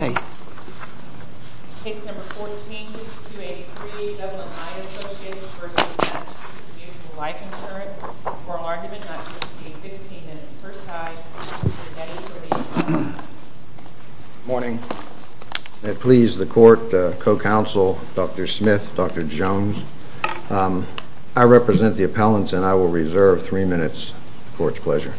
14283, Double Eye Associates v. Mass Mutual Life Insurance, oral argument not to exceed 15 minutes per side. Good morning. It please the court, co-counsel, Dr. Smith, Dr. Jones, I represent the appellants and I will reserve three minutes for its pleasure.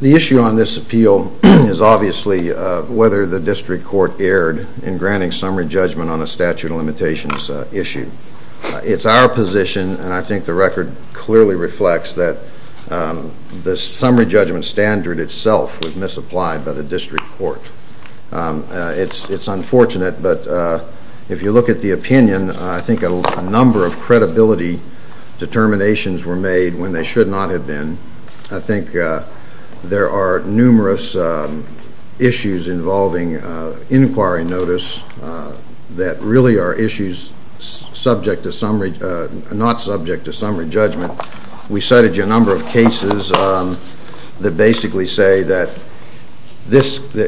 The issue on this appeal is obviously whether the district court erred in granting summary judgment on a statute of limitations issue. It's our position and I think the record clearly reflects that the summary judgment standard itself was misapplied by the district court. It's unfortunate, but if you look at the opinion, I think a number of credibility determinations were made when they should not have been. I think there are numerous issues involving inquiry notice that really are issues not subject to summary judgment. We cited you a number of cases that basically say that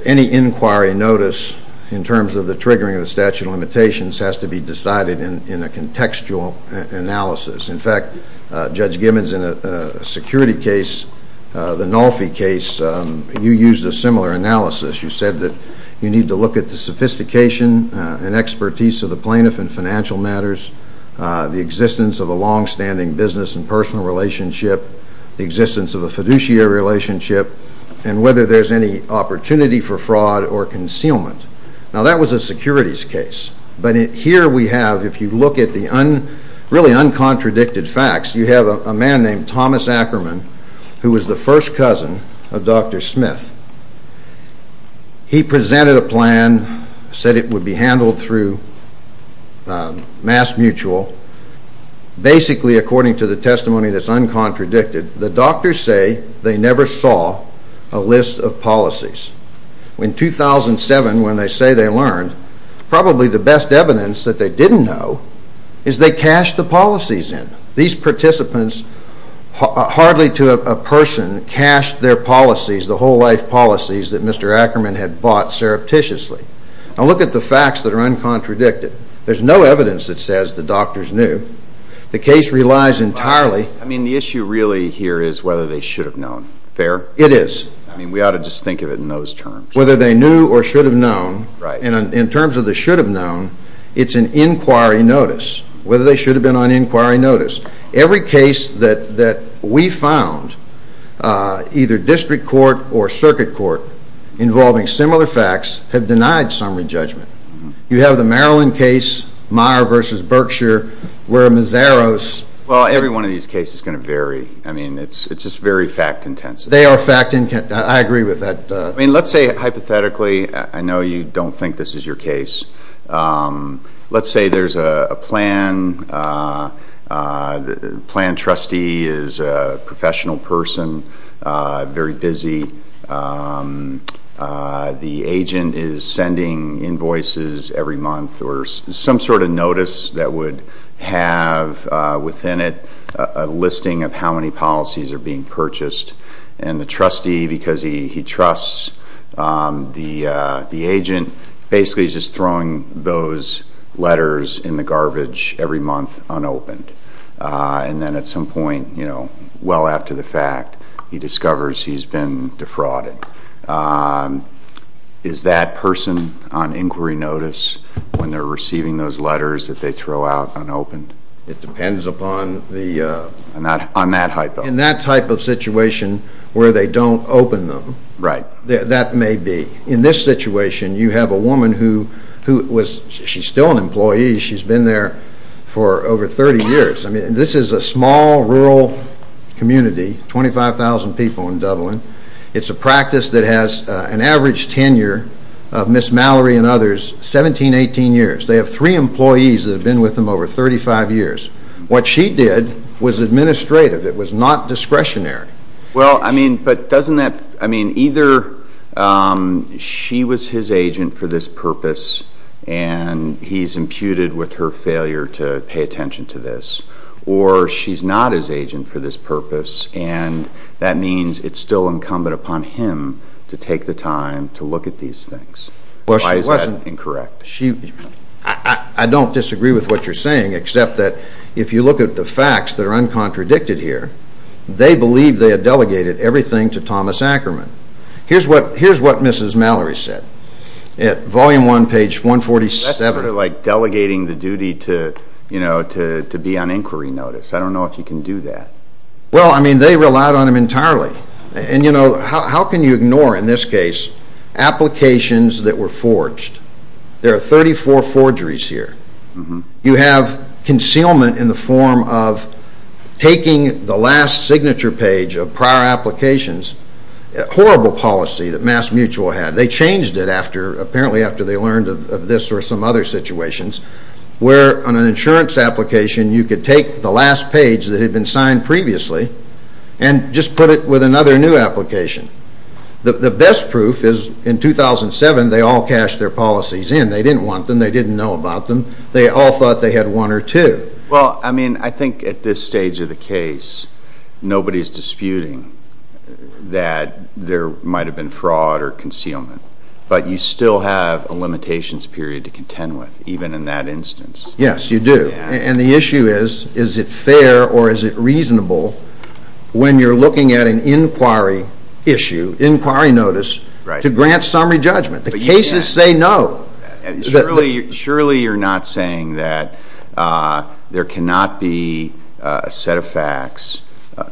any inquiry notice in terms of the triggering of the statute of limitations has to be decided in a contextual analysis. In fact, Judge Gibbons in a security case, the Nolfi case, you used a similar analysis. You said that you need to look at the sophistication and expertise of the plaintiff in financial matters, the existence of a long-standing business and personal relationship, the existence of a fiduciary relationship, and whether there's any opportunity for fraud or concealment. Now that was a securities case, but here we have, if you look at the really uncontradicted facts, you have a man named Thomas Ackerman, who was the first cousin of Dr. Smith. He presented a plan, said it would be handled through Mass Mutual. Basically, according to the testimony that's uncontradicted, the doctors say they never saw a list of policies. In 2007, when they say they learned, probably the best evidence that they didn't know is they cashed the policies in. These participants, hardly to a person, cashed their policies, the whole-life policies that Mr. Ackerman had bought surreptitiously. Now look at the facts that are uncontradicted. There's no evidence that says the doctors knew. The case relies entirely... I mean, the issue really here is whether they should have known. Fair? It is. I mean, we ought to just think of it in those terms. Whether they knew or should have known, and in terms of the should have known, it's an inquiry notice. Whether they should have been on inquiry notice. Every case that we found, either district court or circuit court, involving similar facts, have denied summary judgment. You have the Maryland case, Meyer v. Berkshire, where Mazaros... Well, every one of these cases is going to vary. I mean, it's just very fact-intensive. They are fact-intensive. I agree with that. I mean, let's say, hypothetically, I know you don't think this is your case. Let's say there's a plan. The plan trustee is a professional person, very busy. The agent is sending invoices every month or some sort of notice that would have within it a listing of how many policies are being purchased. And the trustee, because he trusts the agent, basically is just throwing those letters in the garbage every month unopened. And then at some point, you know, well after the fact, he discovers he's been defrauded. Is that person on inquiry notice when they're receiving those letters that they throw out unopened? It depends upon the... On that hypo. In that type of situation where they don't open them. Right. That may be. In this situation, you have a woman who was... She's still an employee. She's been there for over 30 years. I mean, this is a small rural community, 25,000 people in Dublin. It's a practice that has an average tenure of Miss Mallory and others 17, 18 years. They have three employees that have been with them over 35 years. What she did was administrative. It was not discretionary. Well, I mean, but doesn't that... I mean, either she was his agent for this purpose and he's imputed with her failure to pay attention to this, or she's not his agent for this purpose and that means it's still incumbent upon him to take the time to look at these things. Why is that incorrect? I don't disagree with what you're saying except that if you look at the facts that are uncontradicted here, they believe they have delegated everything to Thomas Ackerman. Here's what Mrs. Mallory said. Volume 1, page 147. That's sort of like delegating the duty to be on inquiry notice. I don't know if you can do that. Well, I mean, they relied on him entirely. And, you know, how can you ignore, in this case, applications that were forged? There are 34 forgeries here. You have concealment in the form of taking the last signature page of prior applications, a horrible policy that MassMutual had. They changed it apparently after they learned of this or some other situations where on an insurance application you could take the last page that had been signed previously and just put it with another new application. The best proof is in 2007 they all cashed their policies in. They didn't want them. They didn't know about them. They all thought they had one or two. Well, I mean, I think at this stage of the case, nobody's disputing that there might have been fraud or concealment. But you still have a limitations period to contend with, even in that instance. Yes, you do. And the issue is, is it fair or is it reasonable when you're looking at an inquiry issue, inquiry notice, to grant summary judgment? The cases say no. Surely you're not saying that there cannot be a set of facts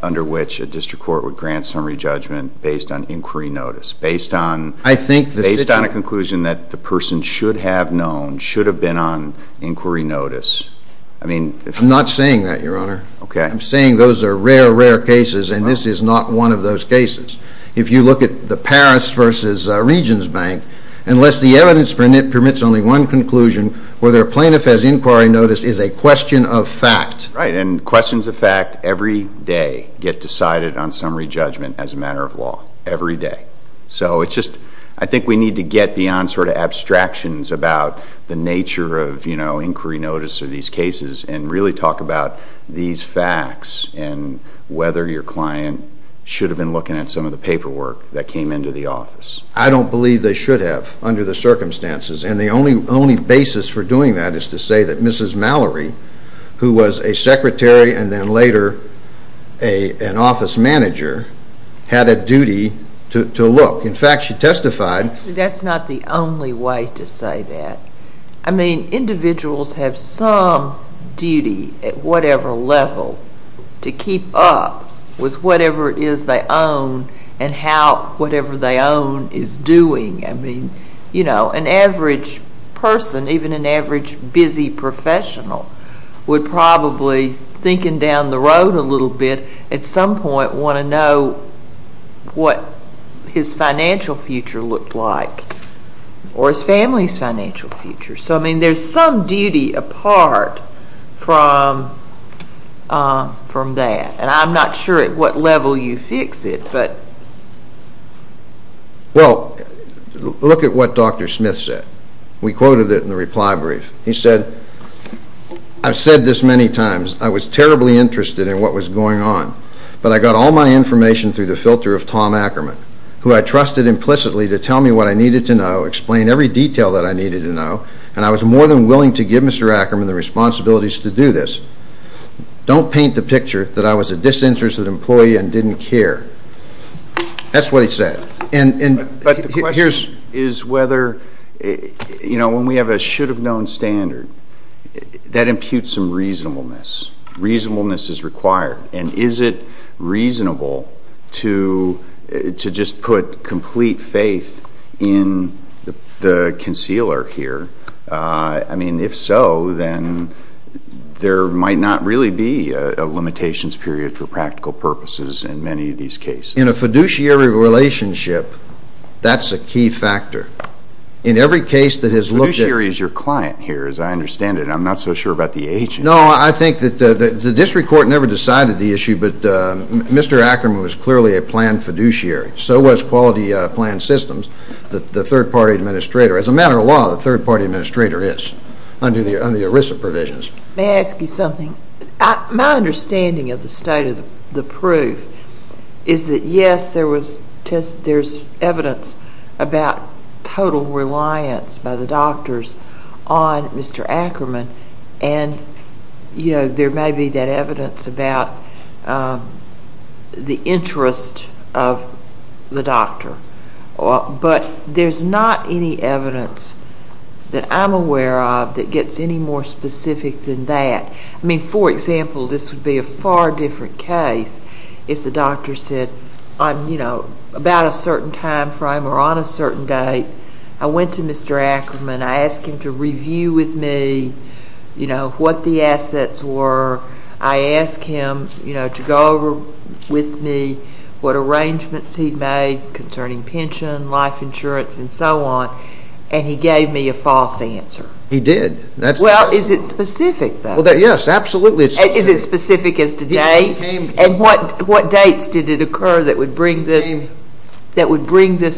under which a district court would grant summary judgment based on inquiry notice, based on a conclusion that the person should have known, based on inquiry notice. I'm not saying that, Your Honor. I'm saying those are rare, rare cases, and this is not one of those cases. If you look at the Paris v. Regions Bank, unless the evidence permits only one conclusion, whether a plaintiff has inquiry notice is a question of fact. Right, and questions of fact every day get decided on summary judgment as a matter of law, every day. So it's just, I think we need to get beyond sort of abstractions about the nature of, you know, inquiry notice or these cases and really talk about these facts and whether your client should have been looking at some of the paperwork that came into the office. I don't believe they should have under the circumstances, and the only basis for doing that is to say that Mrs. Mallory, who was a secretary and then later an office manager, had a duty to look. In fact, she testified. See, that's not the only way to say that. I mean, individuals have some duty at whatever level to keep up with whatever it is they own and how whatever they own is doing. I mean, you know, an average person, even an average busy professional, would probably, thinking down the road a little bit, at some point want to know what his financial future looked like or his family's financial future. So, I mean, there's some duty apart from that, and I'm not sure at what level you fix it. Well, look at what Dr. Smith said. We quoted it in the reply brief. He said, I've said this many times. I was terribly interested in what was going on, but I got all my information through the filter of Tom Ackerman, who I trusted implicitly to tell me what I needed to know, explain every detail that I needed to know, and I was more than willing to give Mr. Ackerman the responsibilities to do this. Don't paint the picture that I was a disinterested employee and didn't care. That's what he said. But the question is whether, you know, when we have a should-have-known standard, that imputes some reasonableness. Reasonableness is required. And is it reasonable to just put complete faith in the concealer here? I mean, if so, then there might not really be a limitations period for practical purposes in many of these cases. In a fiduciary relationship, that's a key factor. In every case that has looked at— Fiduciary is your client here, as I understand it. I'm not so sure about the agency. No, I think that the district court never decided the issue, but Mr. Ackerman was clearly a planned fiduciary. So was Quality Plan Systems, the third-party administrator. As a matter of law, the third-party administrator is under the ERISA provisions. May I ask you something? My understanding of the state of the proof is that, yes, there's evidence about total reliance by the doctors on Mr. Ackerman, and there may be that evidence about the interest of the doctor. But there's not any evidence that I'm aware of that gets any more specific than that. I mean, for example, this would be a far different case if the doctor said, about a certain time frame or on a certain date, I went to Mr. Ackerman, I asked him to review with me what the assets were, I asked him to go over with me what arrangements he'd made concerning pension, life insurance, and so on, and he gave me a false answer. He did. Well, is it specific, though? Yes, absolutely. Is it specific as to date? And what dates did it occur that would bring this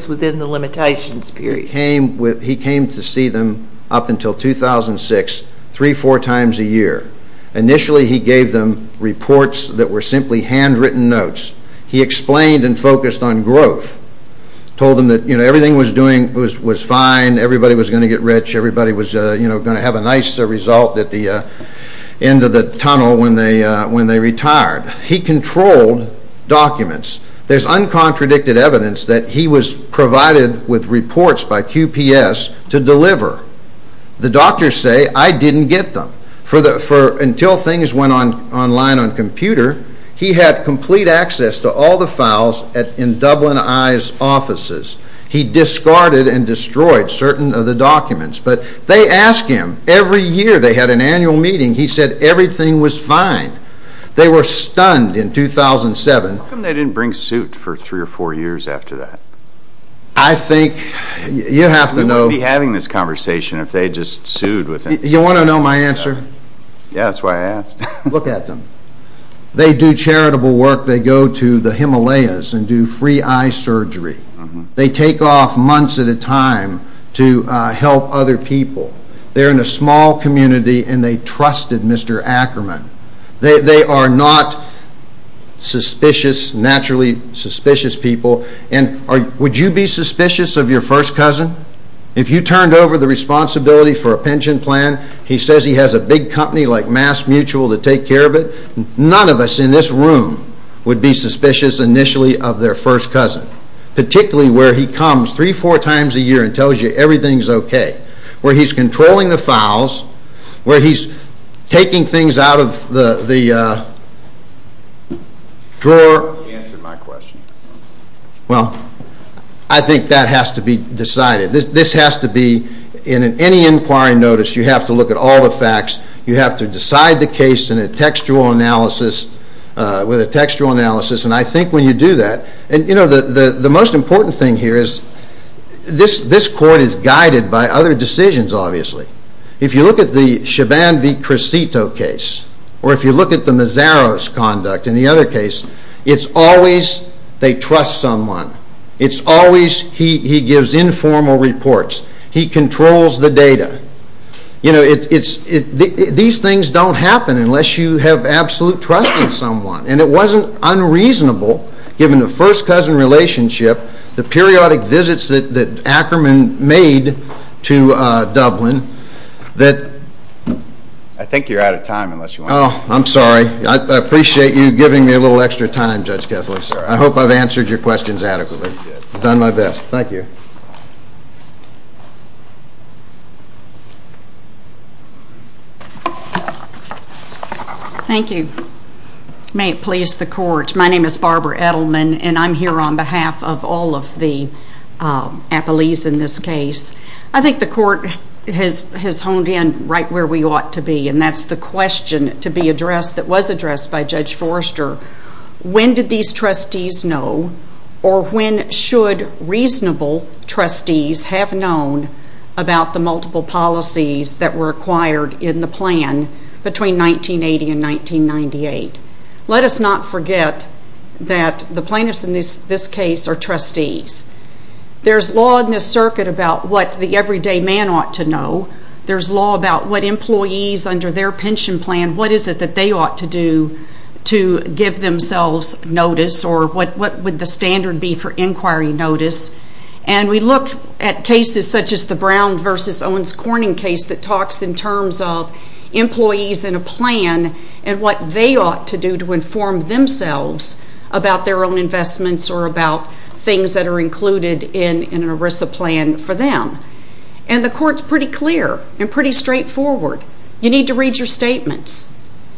within the limitations period? He came to see them up until 2006, three, four times a year. Initially, he gave them reports that were simply handwritten notes. He explained and focused on growth, told them that everything was fine, everybody was going to get rich, everybody was going to have a nice result at the end of the tunnel when they retired. He controlled documents. There's uncontradicted evidence that he was provided with reports by QPS to deliver. The doctors say, I didn't get them. Until things went online on computer, he had complete access to all the files in Dublin Eye's offices. He discarded and destroyed certain of the documents. But they asked him. Every year they had an annual meeting. He said everything was fine. They were stunned in 2007. How come they didn't bring suit for three or four years after that? I think you have to know. We wouldn't be having this conversation if they had just sued with him. You want to know my answer? Yeah, that's why I asked. Look at them. They do charitable work. They go to the Himalayas and do free eye surgery. They take off months at a time to help other people. They're in a small community and they trusted Mr. Ackerman. They are not suspicious, naturally suspicious people. Would you be suspicious of your first cousin? If you turned over the responsibility for a pension plan, he says he has a big company like Mass Mutual to take care of it. None of us in this room would be suspicious initially of their first cousin. Particularly where he comes three or four times a year and tells you everything is okay. Where he's controlling the files. Where he's taking things out of the drawer. Answer my question. Well, I think that has to be decided. This has to be in any inquiry notice you have to look at all the facts. You have to decide the case in a textual analysis. With a textual analysis. And I think when you do that. And you know the most important thing here is this court is guided by other decisions obviously. If you look at the Chaban v. Cresito case. Or if you look at the Mazaros conduct in the other case. It's always they trust someone. It's always he gives informal reports. He controls the data. These things don't happen unless you have absolute trust in someone. And it wasn't unreasonable given the first cousin relationship. The periodic visits that Ackerman made to Dublin. I think you're out of time. I'm sorry. I appreciate you giving me a little extra time Judge Kessler. I hope I've answered your questions adequately. I've done my best. Thank you. Thank you. May it please the court. My name is Barbara Edelman. And I'm here on behalf of all of the appellees in this case. I think the court has honed in right where we ought to be. And that's the question to be addressed that was addressed by Judge Forrester. When did these trustees know? Or when should reasonable trustees have known about the multiple policies that were acquired in the plan between 1980 and 1998? Let us not forget that the plaintiffs in this case are trustees. There's law in this circuit about what the everyday man ought to know. There's law about what employees under their pension plan, what is it that they ought to do to give themselves notice or what would the standard be for inquiry notice. And we look at cases such as the Brown versus Owens Corning case that talks in terms of employees in a plan and what they ought to do to inform themselves about their own investments or about things that are included in an ERISA plan for them. And the court's pretty clear and pretty straightforward. You need to read your statements.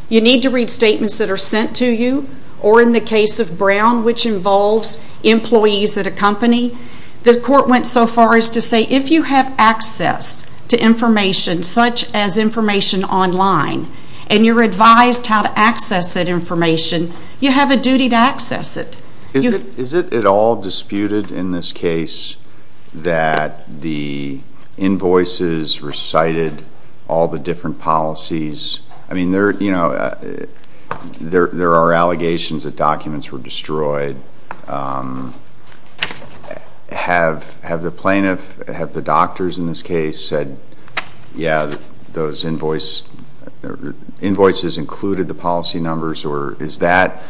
You need to read statements that are sent to you. Or in the case of Brown, which involves employees at a company, the court went so far as to say if you have access to information such as information online and you're advised how to access that information, you have a duty to access it. Is it at all disputed in this case that the invoices recited all the different policies? I mean, there are allegations that documents were destroyed. Have the plaintiff, have the doctors in this case said, yeah, those invoices included the policy numbers? Or is that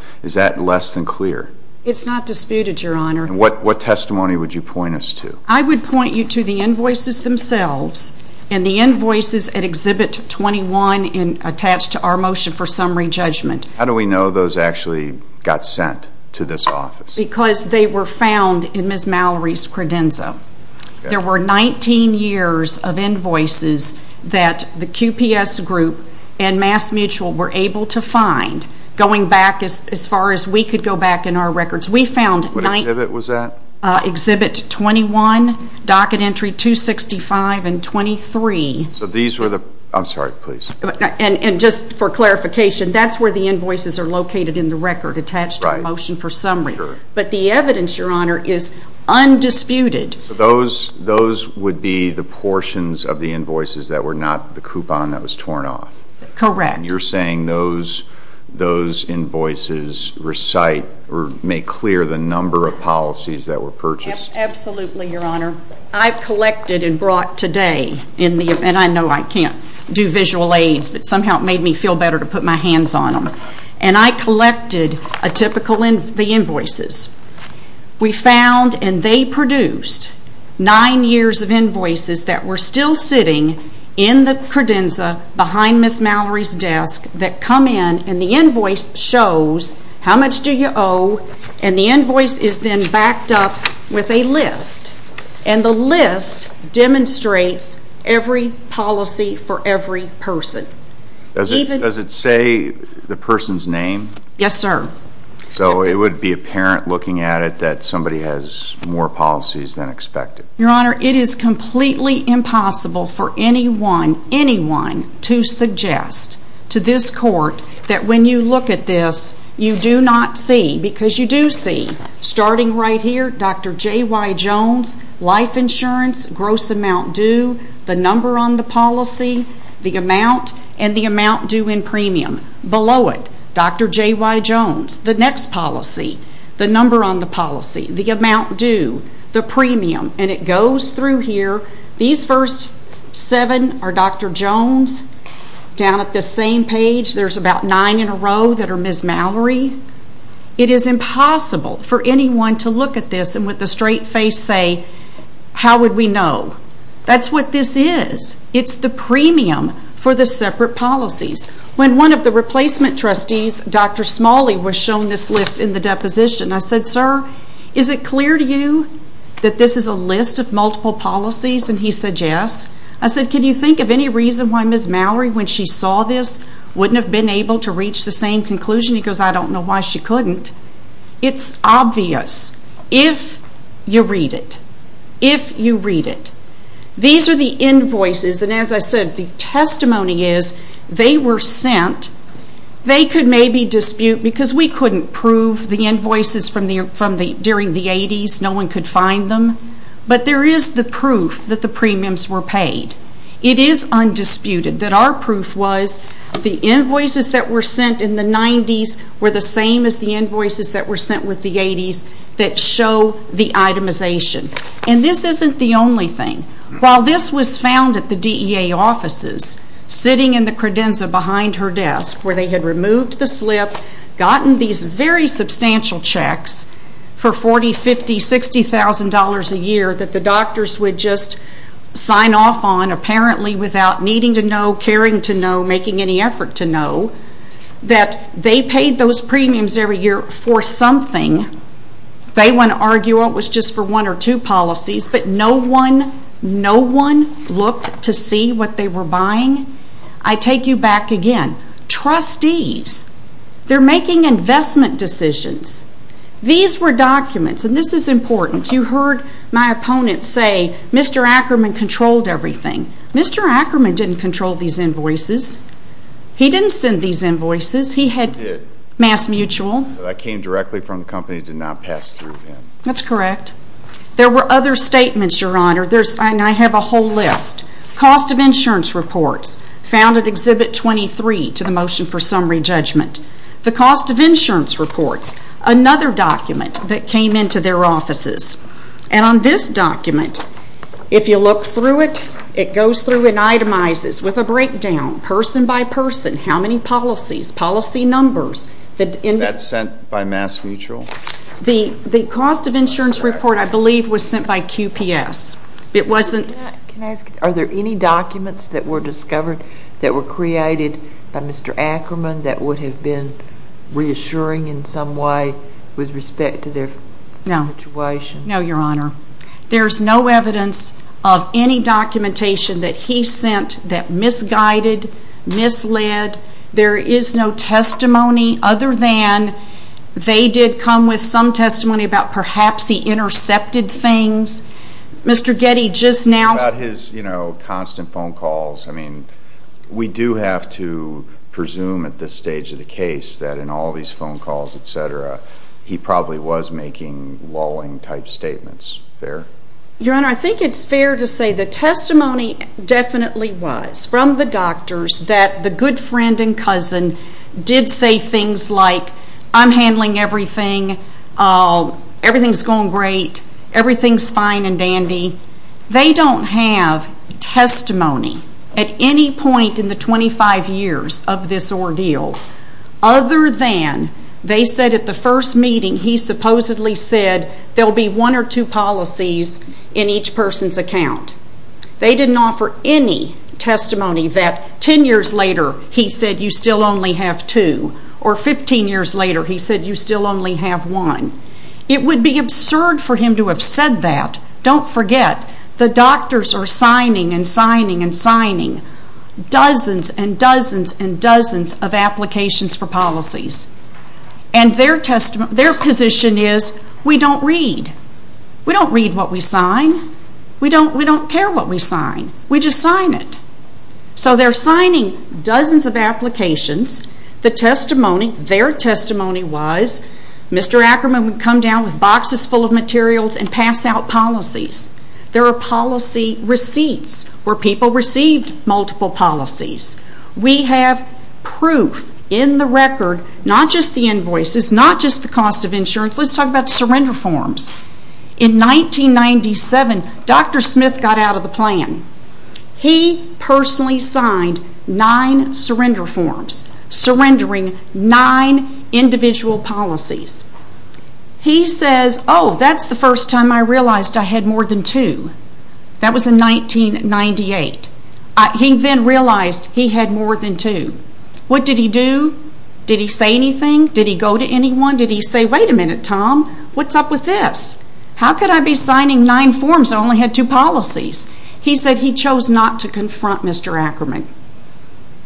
less than clear? It's not disputed, Your Honor. And what testimony would you point us to? I would point you to the invoices themselves and the invoices at Exhibit 21 attached to our motion for summary judgment. How do we know those actually got sent to this office? Because they were found in Ms. Mallory's credenza. There were 19 years of invoices that the QPS group and MassMutual were able to find going back as far as we could go back in our records. What exhibit was that? Exhibit 21, docket entry 265 and 23. I'm sorry, please. And just for clarification, that's where the invoices are located in the record attached to our motion for summary. But the evidence, Your Honor, is undisputed. Those would be the portions of the invoices that were not the coupon that was torn off? Correct. You're saying those invoices recite or make clear the number of policies that were purchased? Absolutely, Your Honor. I collected and brought today, and I know I can't do visual aids, but somehow it made me feel better to put my hands on them. And I collected the invoices. We found and they produced nine years of invoices that were still sitting in the credenza behind Ms. Mallory's desk that come in and the invoice shows how much do you owe, and the invoice is then backed up with a list. And the list demonstrates every policy for every person. Does it say the person's name? Yes, sir. So it would be apparent looking at it that somebody has more policies than expected? Your Honor, it is completely impossible for anyone, anyone to suggest to this you do not see, because you do see, starting right here, Dr. J.Y. Jones, life insurance, gross amount due, the number on the policy, the amount, and the amount due in premium. Below it, Dr. J.Y. Jones, the next policy, the number on the policy, the amount due, the premium. And it goes through here. These first seven are Dr. Jones. Down at the same page, there's about nine in a row that are Ms. Mallory. It is impossible for anyone to look at this and with a straight face say, how would we know? That's what this is. It's the premium for the separate policies. When one of the replacement trustees, Dr. Smalley, was shown this list in the deposition, I said, sir, is it clear to you that this is a list of multiple policies? And he said, yes. I said, can you think of any reason why Ms. Mallory, when she saw this, wouldn't have been able to reach the same conclusion? He goes, I don't know why she couldn't. It's obvious. If you read it. If you read it. These are the invoices, and as I said, the testimony is they were sent. They could maybe dispute, because we couldn't prove the invoices during the 80s. No one could find them. But there is the proof that the premiums were paid. It is undisputed that our proof was the invoices that were sent in the 90s were the same as the invoices that were sent with the 80s that show the itemization. And this isn't the only thing. While this was found at the DEA offices, sitting in the credenza behind her desk, where they had removed the slip, gotten these very substantial checks for $40,000, $50,000, $60,000 a year that the doctors would just sign off on, apparently without needing to know, caring to know, making any effort to know, that they paid those premiums every year for something. They wouldn't argue it was just for one or two policies, but no one looked to see what they were buying. I take you back again. Trustees. They're making investment decisions. These were documents. And this is important. You heard my opponent say, Mr. Ackerman controlled everything. Mr. Ackerman didn't control these invoices. He didn't send these invoices. He had MassMutual. That came directly from the company, did not pass through him. That's correct. There were other statements, Your Honor. And I have a whole list. Cost of insurance reports found at Exhibit 23 to the Motion for Summary Judgment. The cost of insurance reports, another document that came into their offices. And on this document, if you look through it, it goes through and itemizes with a breakdown, person by person, how many policies, policy numbers. That's sent by MassMutual? The cost of insurance report, I believe, was sent by QPS. Can I ask, are there any documents that were discovered that were created by Mr. Ackerman that would have been reassuring in some way with respect to their situation? No. No, Your Honor. There's no evidence of any documentation that he sent that misguided, misled. There is no testimony other than they did come with some testimony about perhaps he intercepted things. Mr. Getty just now ---- About his, you know, constant phone calls. I mean, we do have to presume at this stage of the case that in all these phone calls, et cetera, he probably was making lulling type statements. Fair? Your Honor, I think it's fair to say the testimony definitely was from the doctors that the good friend and cousin did say things like, I'm handling everything. Everything's going great. Everything's fine and dandy. They don't have testimony at any point in the 25 years of this ordeal other than they said at the first meeting he supposedly said there will be one or two policies in each person's account. They didn't offer any testimony that 10 years later he said you still only have two or 15 years later he said you still only have one. It would be absurd for him to have said that. Don't forget, the doctors are signing and signing and signing dozens and dozens and dozens of applications for policies. And their position is we don't read. We don't read what we sign. We don't care what we sign. We just sign it. So they're signing dozens of applications. The testimony, their testimony was Mr. Ackerman would come down with boxes full of materials and pass out policies. There are policy receipts where people received multiple policies. We have proof in the record, not just the invoices, not just the cost of insurance. Let's talk about surrender forms. In 1997, Dr. Smith got out of the plan. He personally signed nine surrender forms, surrendering nine individual policies. He says, oh, that's the first time I realized I had more than two. That was in 1998. He then realized he had more than two. What did he do? Did he say anything? Did he go to anyone? Did he say, wait a minute, Tom, what's up with this? How could I be signing nine forms? I only had two policies. He said he chose not to confront Mr. Ackerman.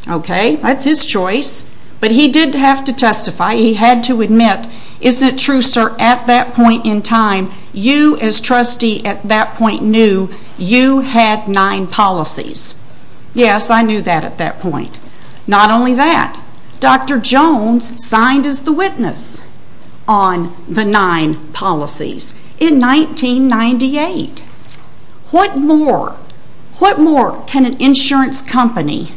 Okay, that's his choice. But he did have to testify. He had to admit, isn't it true, sir, at that point in time, you as trustee at that point knew you had nine policies. Yes, I knew that at that point. Not only that, Dr. Jones signed as the witness on the nine policies in 1998. What more can an insurance company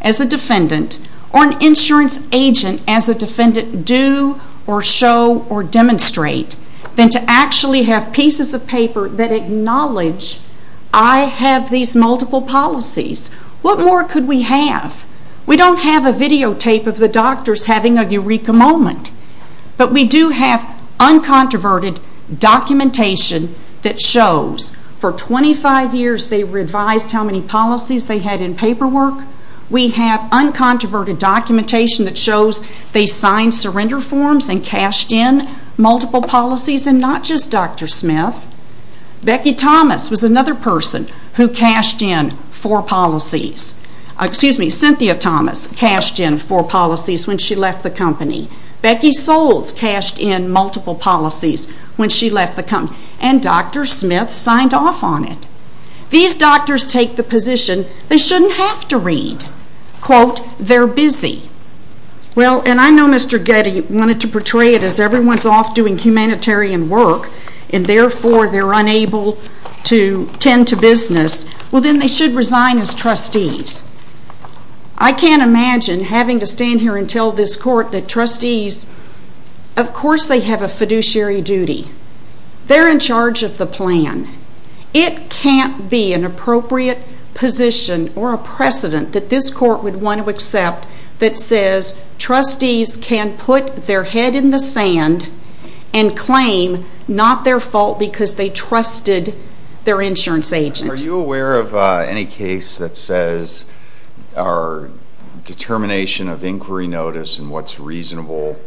as a defendant or an insurance agent as a person do or show or demonstrate than to actually have pieces of paper that acknowledge I have these multiple policies? What more could we have? We don't have a videotape of the doctors having a eureka moment. But we do have uncontroverted documentation that shows for 25 years they revised how many policies they had in paperwork. We have uncontroverted documentation that shows they signed surrender forms and cashed in multiple policies and not just Dr. Smith. Becky Thomas was another person who cashed in four policies. Cynthia Thomas cashed in four policies when she left the company. Becky Soles cashed in multiple policies when she left the company. And Dr. Smith signed off on it. These doctors take the position they shouldn't have to read. Quote, they're busy. Well, and I know Mr. Getty wanted to portray it as everyone's off doing humanitarian work and therefore they're unable to tend to business. Well, then they should resign as trustees. I can't imagine having to stand here and tell this court that trustees, of course they have a fiduciary duty. They're in charge of the plan. It can't be an appropriate position or a precedent that this court would want to accept that says trustees can put their head in the sand and claim not their fault because they trusted their insurance agent. Are you aware of any case that says our determination of inquiry notice and what's reasonable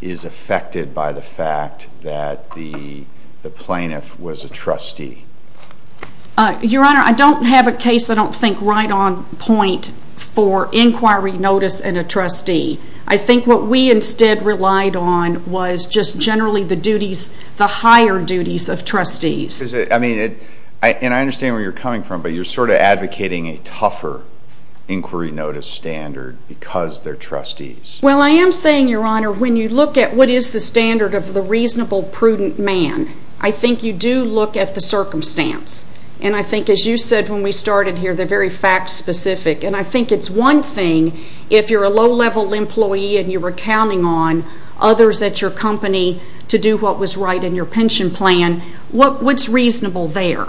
is affected by the fact that the plaintiff was a trustee? Your Honor, I don't have a case I don't think right on point for inquiry notice and a trustee. I think what we instead relied on was just generally the duties, the higher duties of trustees. I mean, and I understand where you're coming from, but you're sort of advocating a tougher inquiry notice standard because they're trustees. Well, I am saying, Your Honor, when you look at what is the standard of the reasonable, prudent man, I think you do look at the circumstance. And I think as you said when we started here, they're very fact specific. And I think it's one thing if you're a low-level employee and you're counting on others at your company to do what was right in your pension plan, what's reasonable there?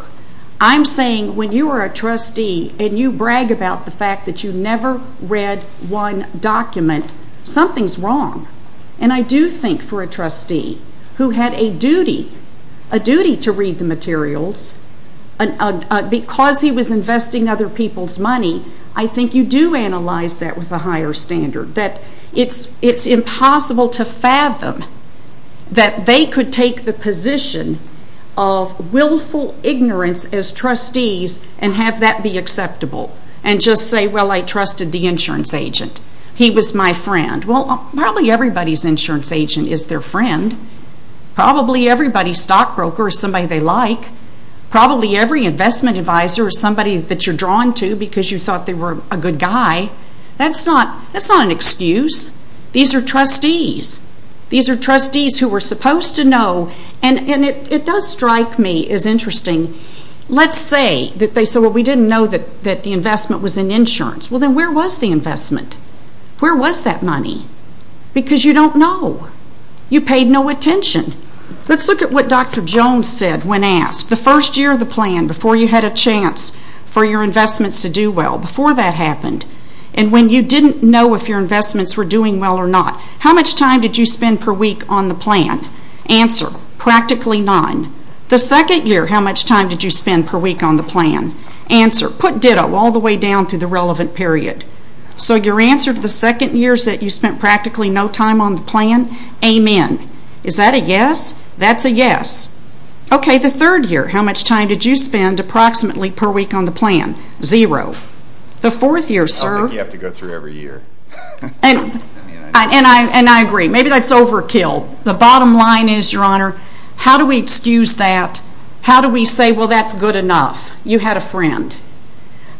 I'm saying when you are a trustee and you brag about the fact that you never read one document, something's wrong. And I do think for a trustee who had a duty, a duty to read the materials, because he was investing other people's money, I think you do analyze that with a higher standard, that it's impossible to fathom that they could take the position of willful ignorance as trustees and have that be acceptable and just say, Well, I trusted the insurance agent. He was my friend. Well, probably everybody's insurance agent is their friend. Probably everybody's stockbroker is somebody they like. Probably every investment advisor is somebody that you're drawn to because you thought they were a good guy. That's not an excuse. These are trustees. These are trustees who were supposed to know. And it does strike me as interesting. Let's say that they said, Well, we didn't know that the investment was in insurance. Well, then where was the investment? Where was that money? Because you don't know. You paid no attention. Let's look at what Dr. Jones said when asked. The first year of the plan, before you had a chance for your investments to do well, before that happened, and when you didn't know if your investments were doing well or not, how much time did you spend per week on the plan? Answer. Practically none. The second year, how much time did you spend per week on the plan? Answer. Put ditto all the way down through the relevant period. So your answer to the second year is that you spent practically no time on the plan? Amen. Is that a yes? That's a yes. Okay. The third year, how much time did you spend approximately per week on the plan? Zero. The fourth year, sir. I don't think you have to go through every year. And I agree. Maybe that's overkill. The bottom line is, Your Honor, how do we excuse that? How do we say, well, that's good enough? You had a friend.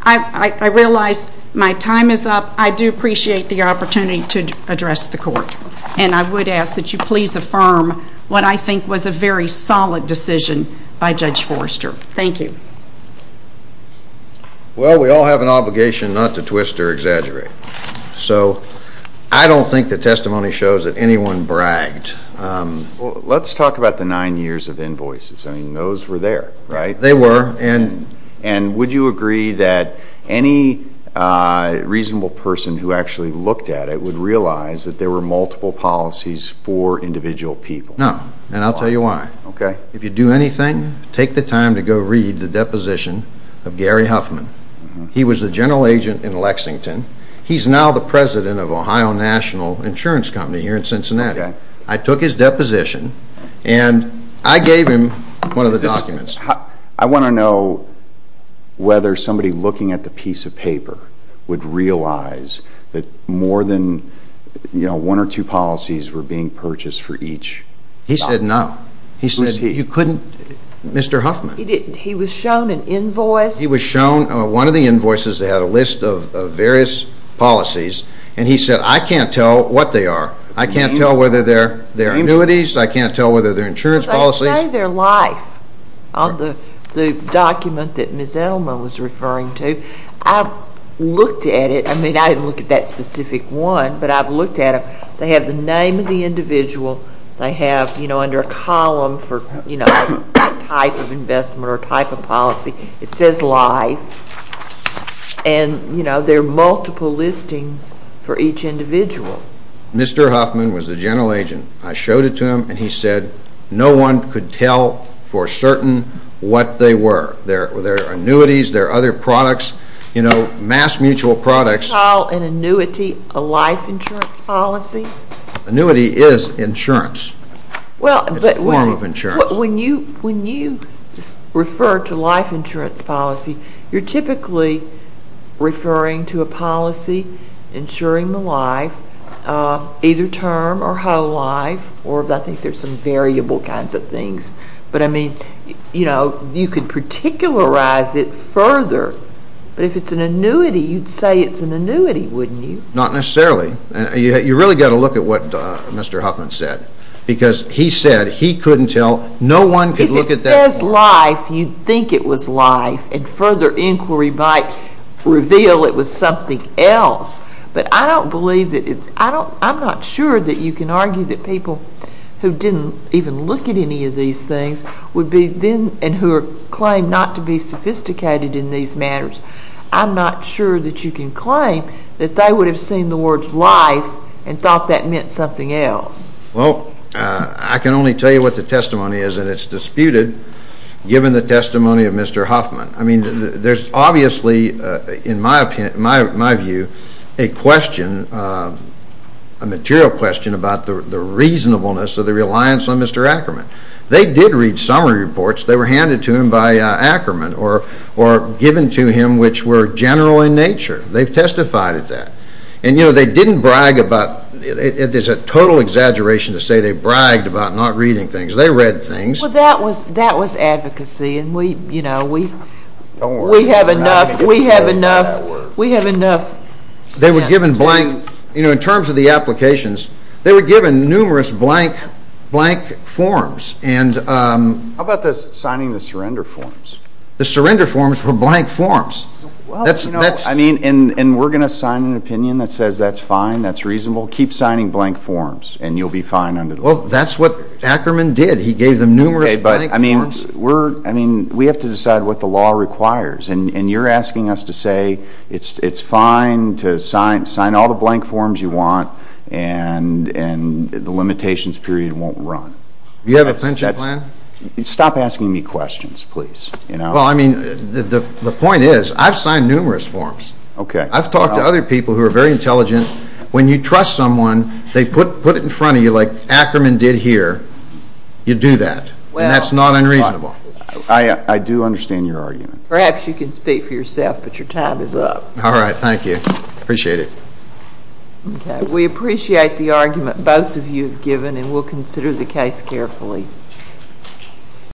I realize my time is up. I do appreciate the opportunity to address the court. And I would ask that you please affirm what I think was a very solid decision by Judge Forrester. Thank you. Well, we all have an obligation not to twist or exaggerate. So I don't think the testimony shows that anyone bragged. Well, let's talk about the nine years of invoices. I mean, those were there, right? They were. And would you agree that any reasonable person who actually looked at it would realize that there were multiple policies for individual people? No. And I'll tell you why. Okay. If you do anything, take the time to go read the deposition of Gary Huffman. He was the general agent in Lexington. He's now the president of Ohio National Insurance Company here in Cincinnati. Okay. I took his deposition, and I gave him one of the documents. I want to know whether somebody looking at the piece of paper would realize that more than one or two policies were being purchased for each. He said no. Who's he? Mr. Huffman. He didn't. He was shown an invoice. He was shown one of the invoices that had a list of various policies, and he said, I can't tell what they are. I can't tell whether they're annuities. I can't tell whether they're insurance policies. They say their life on the document that Ms. Elmer was referring to. I looked at it. I mean, I didn't look at that specific one, but I've looked at them. They have the name of the individual. They have, you know, under a column for, you know, type of investment or type of policy. It says life, and, you know, there are multiple listings for each individual. Mr. Huffman was the general agent. I showed it to him, and he said no one could tell for certain what they were. They're annuities. They're other products, you know, mass mutual products. You call an annuity a life insurance policy? Annuity is insurance. It's a form of insurance. When you refer to life insurance policy, you're typically referring to a policy insuring the life, either term or whole life, or I think there's some variable kinds of things. But, I mean, you know, you could particularize it further. But if it's an annuity, you'd say it's an annuity, wouldn't you? Not necessarily. You really got to look at what Mr. Huffman said, because he said he couldn't tell. No one could look at that. If it says life, you'd think it was life, and further inquiry might reveal it was something else. But I don't believe that it's, I'm not sure that you can argue that people who didn't even look at any of these things would be then, and who claim not to be sophisticated in these matters, I'm not sure that you can claim that they would have seen the words life and thought that meant something else. Well, I can only tell you what the testimony is, and it's disputed, given the testimony of Mr. Huffman. I mean, there's obviously, in my view, a question, a material question, about the reasonableness or the reliance on Mr. Ackerman. They did read summary reports. They were handed to him by Ackerman, or given to him, which were general in nature. They've testified at that. And, you know, they didn't brag about, there's a total exaggeration to say they bragged about not reading things. They read things. Well, that was advocacy, and we, you know, we have enough, we have enough, we have enough. They were given blank, you know, in terms of the applications, they were given numerous blank forms. How about the signing the surrender forms? The surrender forms were blank forms. Well, you know, I mean, and we're going to sign an opinion that says that's fine, that's reasonable. Keep signing blank forms, and you'll be fine under the law. Well, that's what Ackerman did. He gave them numerous blank forms. Okay, but, I mean, we're, I mean, we have to decide what the law requires. And you're asking us to say it's fine to sign all the blank forms you want, and the limitations period won't run. Do you have a pension plan? Stop asking me questions, please. Well, I mean, the point is I've signed numerous forms. Okay. I've talked to other people who are very intelligent. When you trust someone, they put it in front of you like Ackerman did here. You do that, and that's not unreasonable. I do understand your argument. Perhaps you can speak for yourself, but your time is up. All right, thank you. Appreciate it. Okay, we appreciate the argument both of you have given, and we'll consider the case carefully.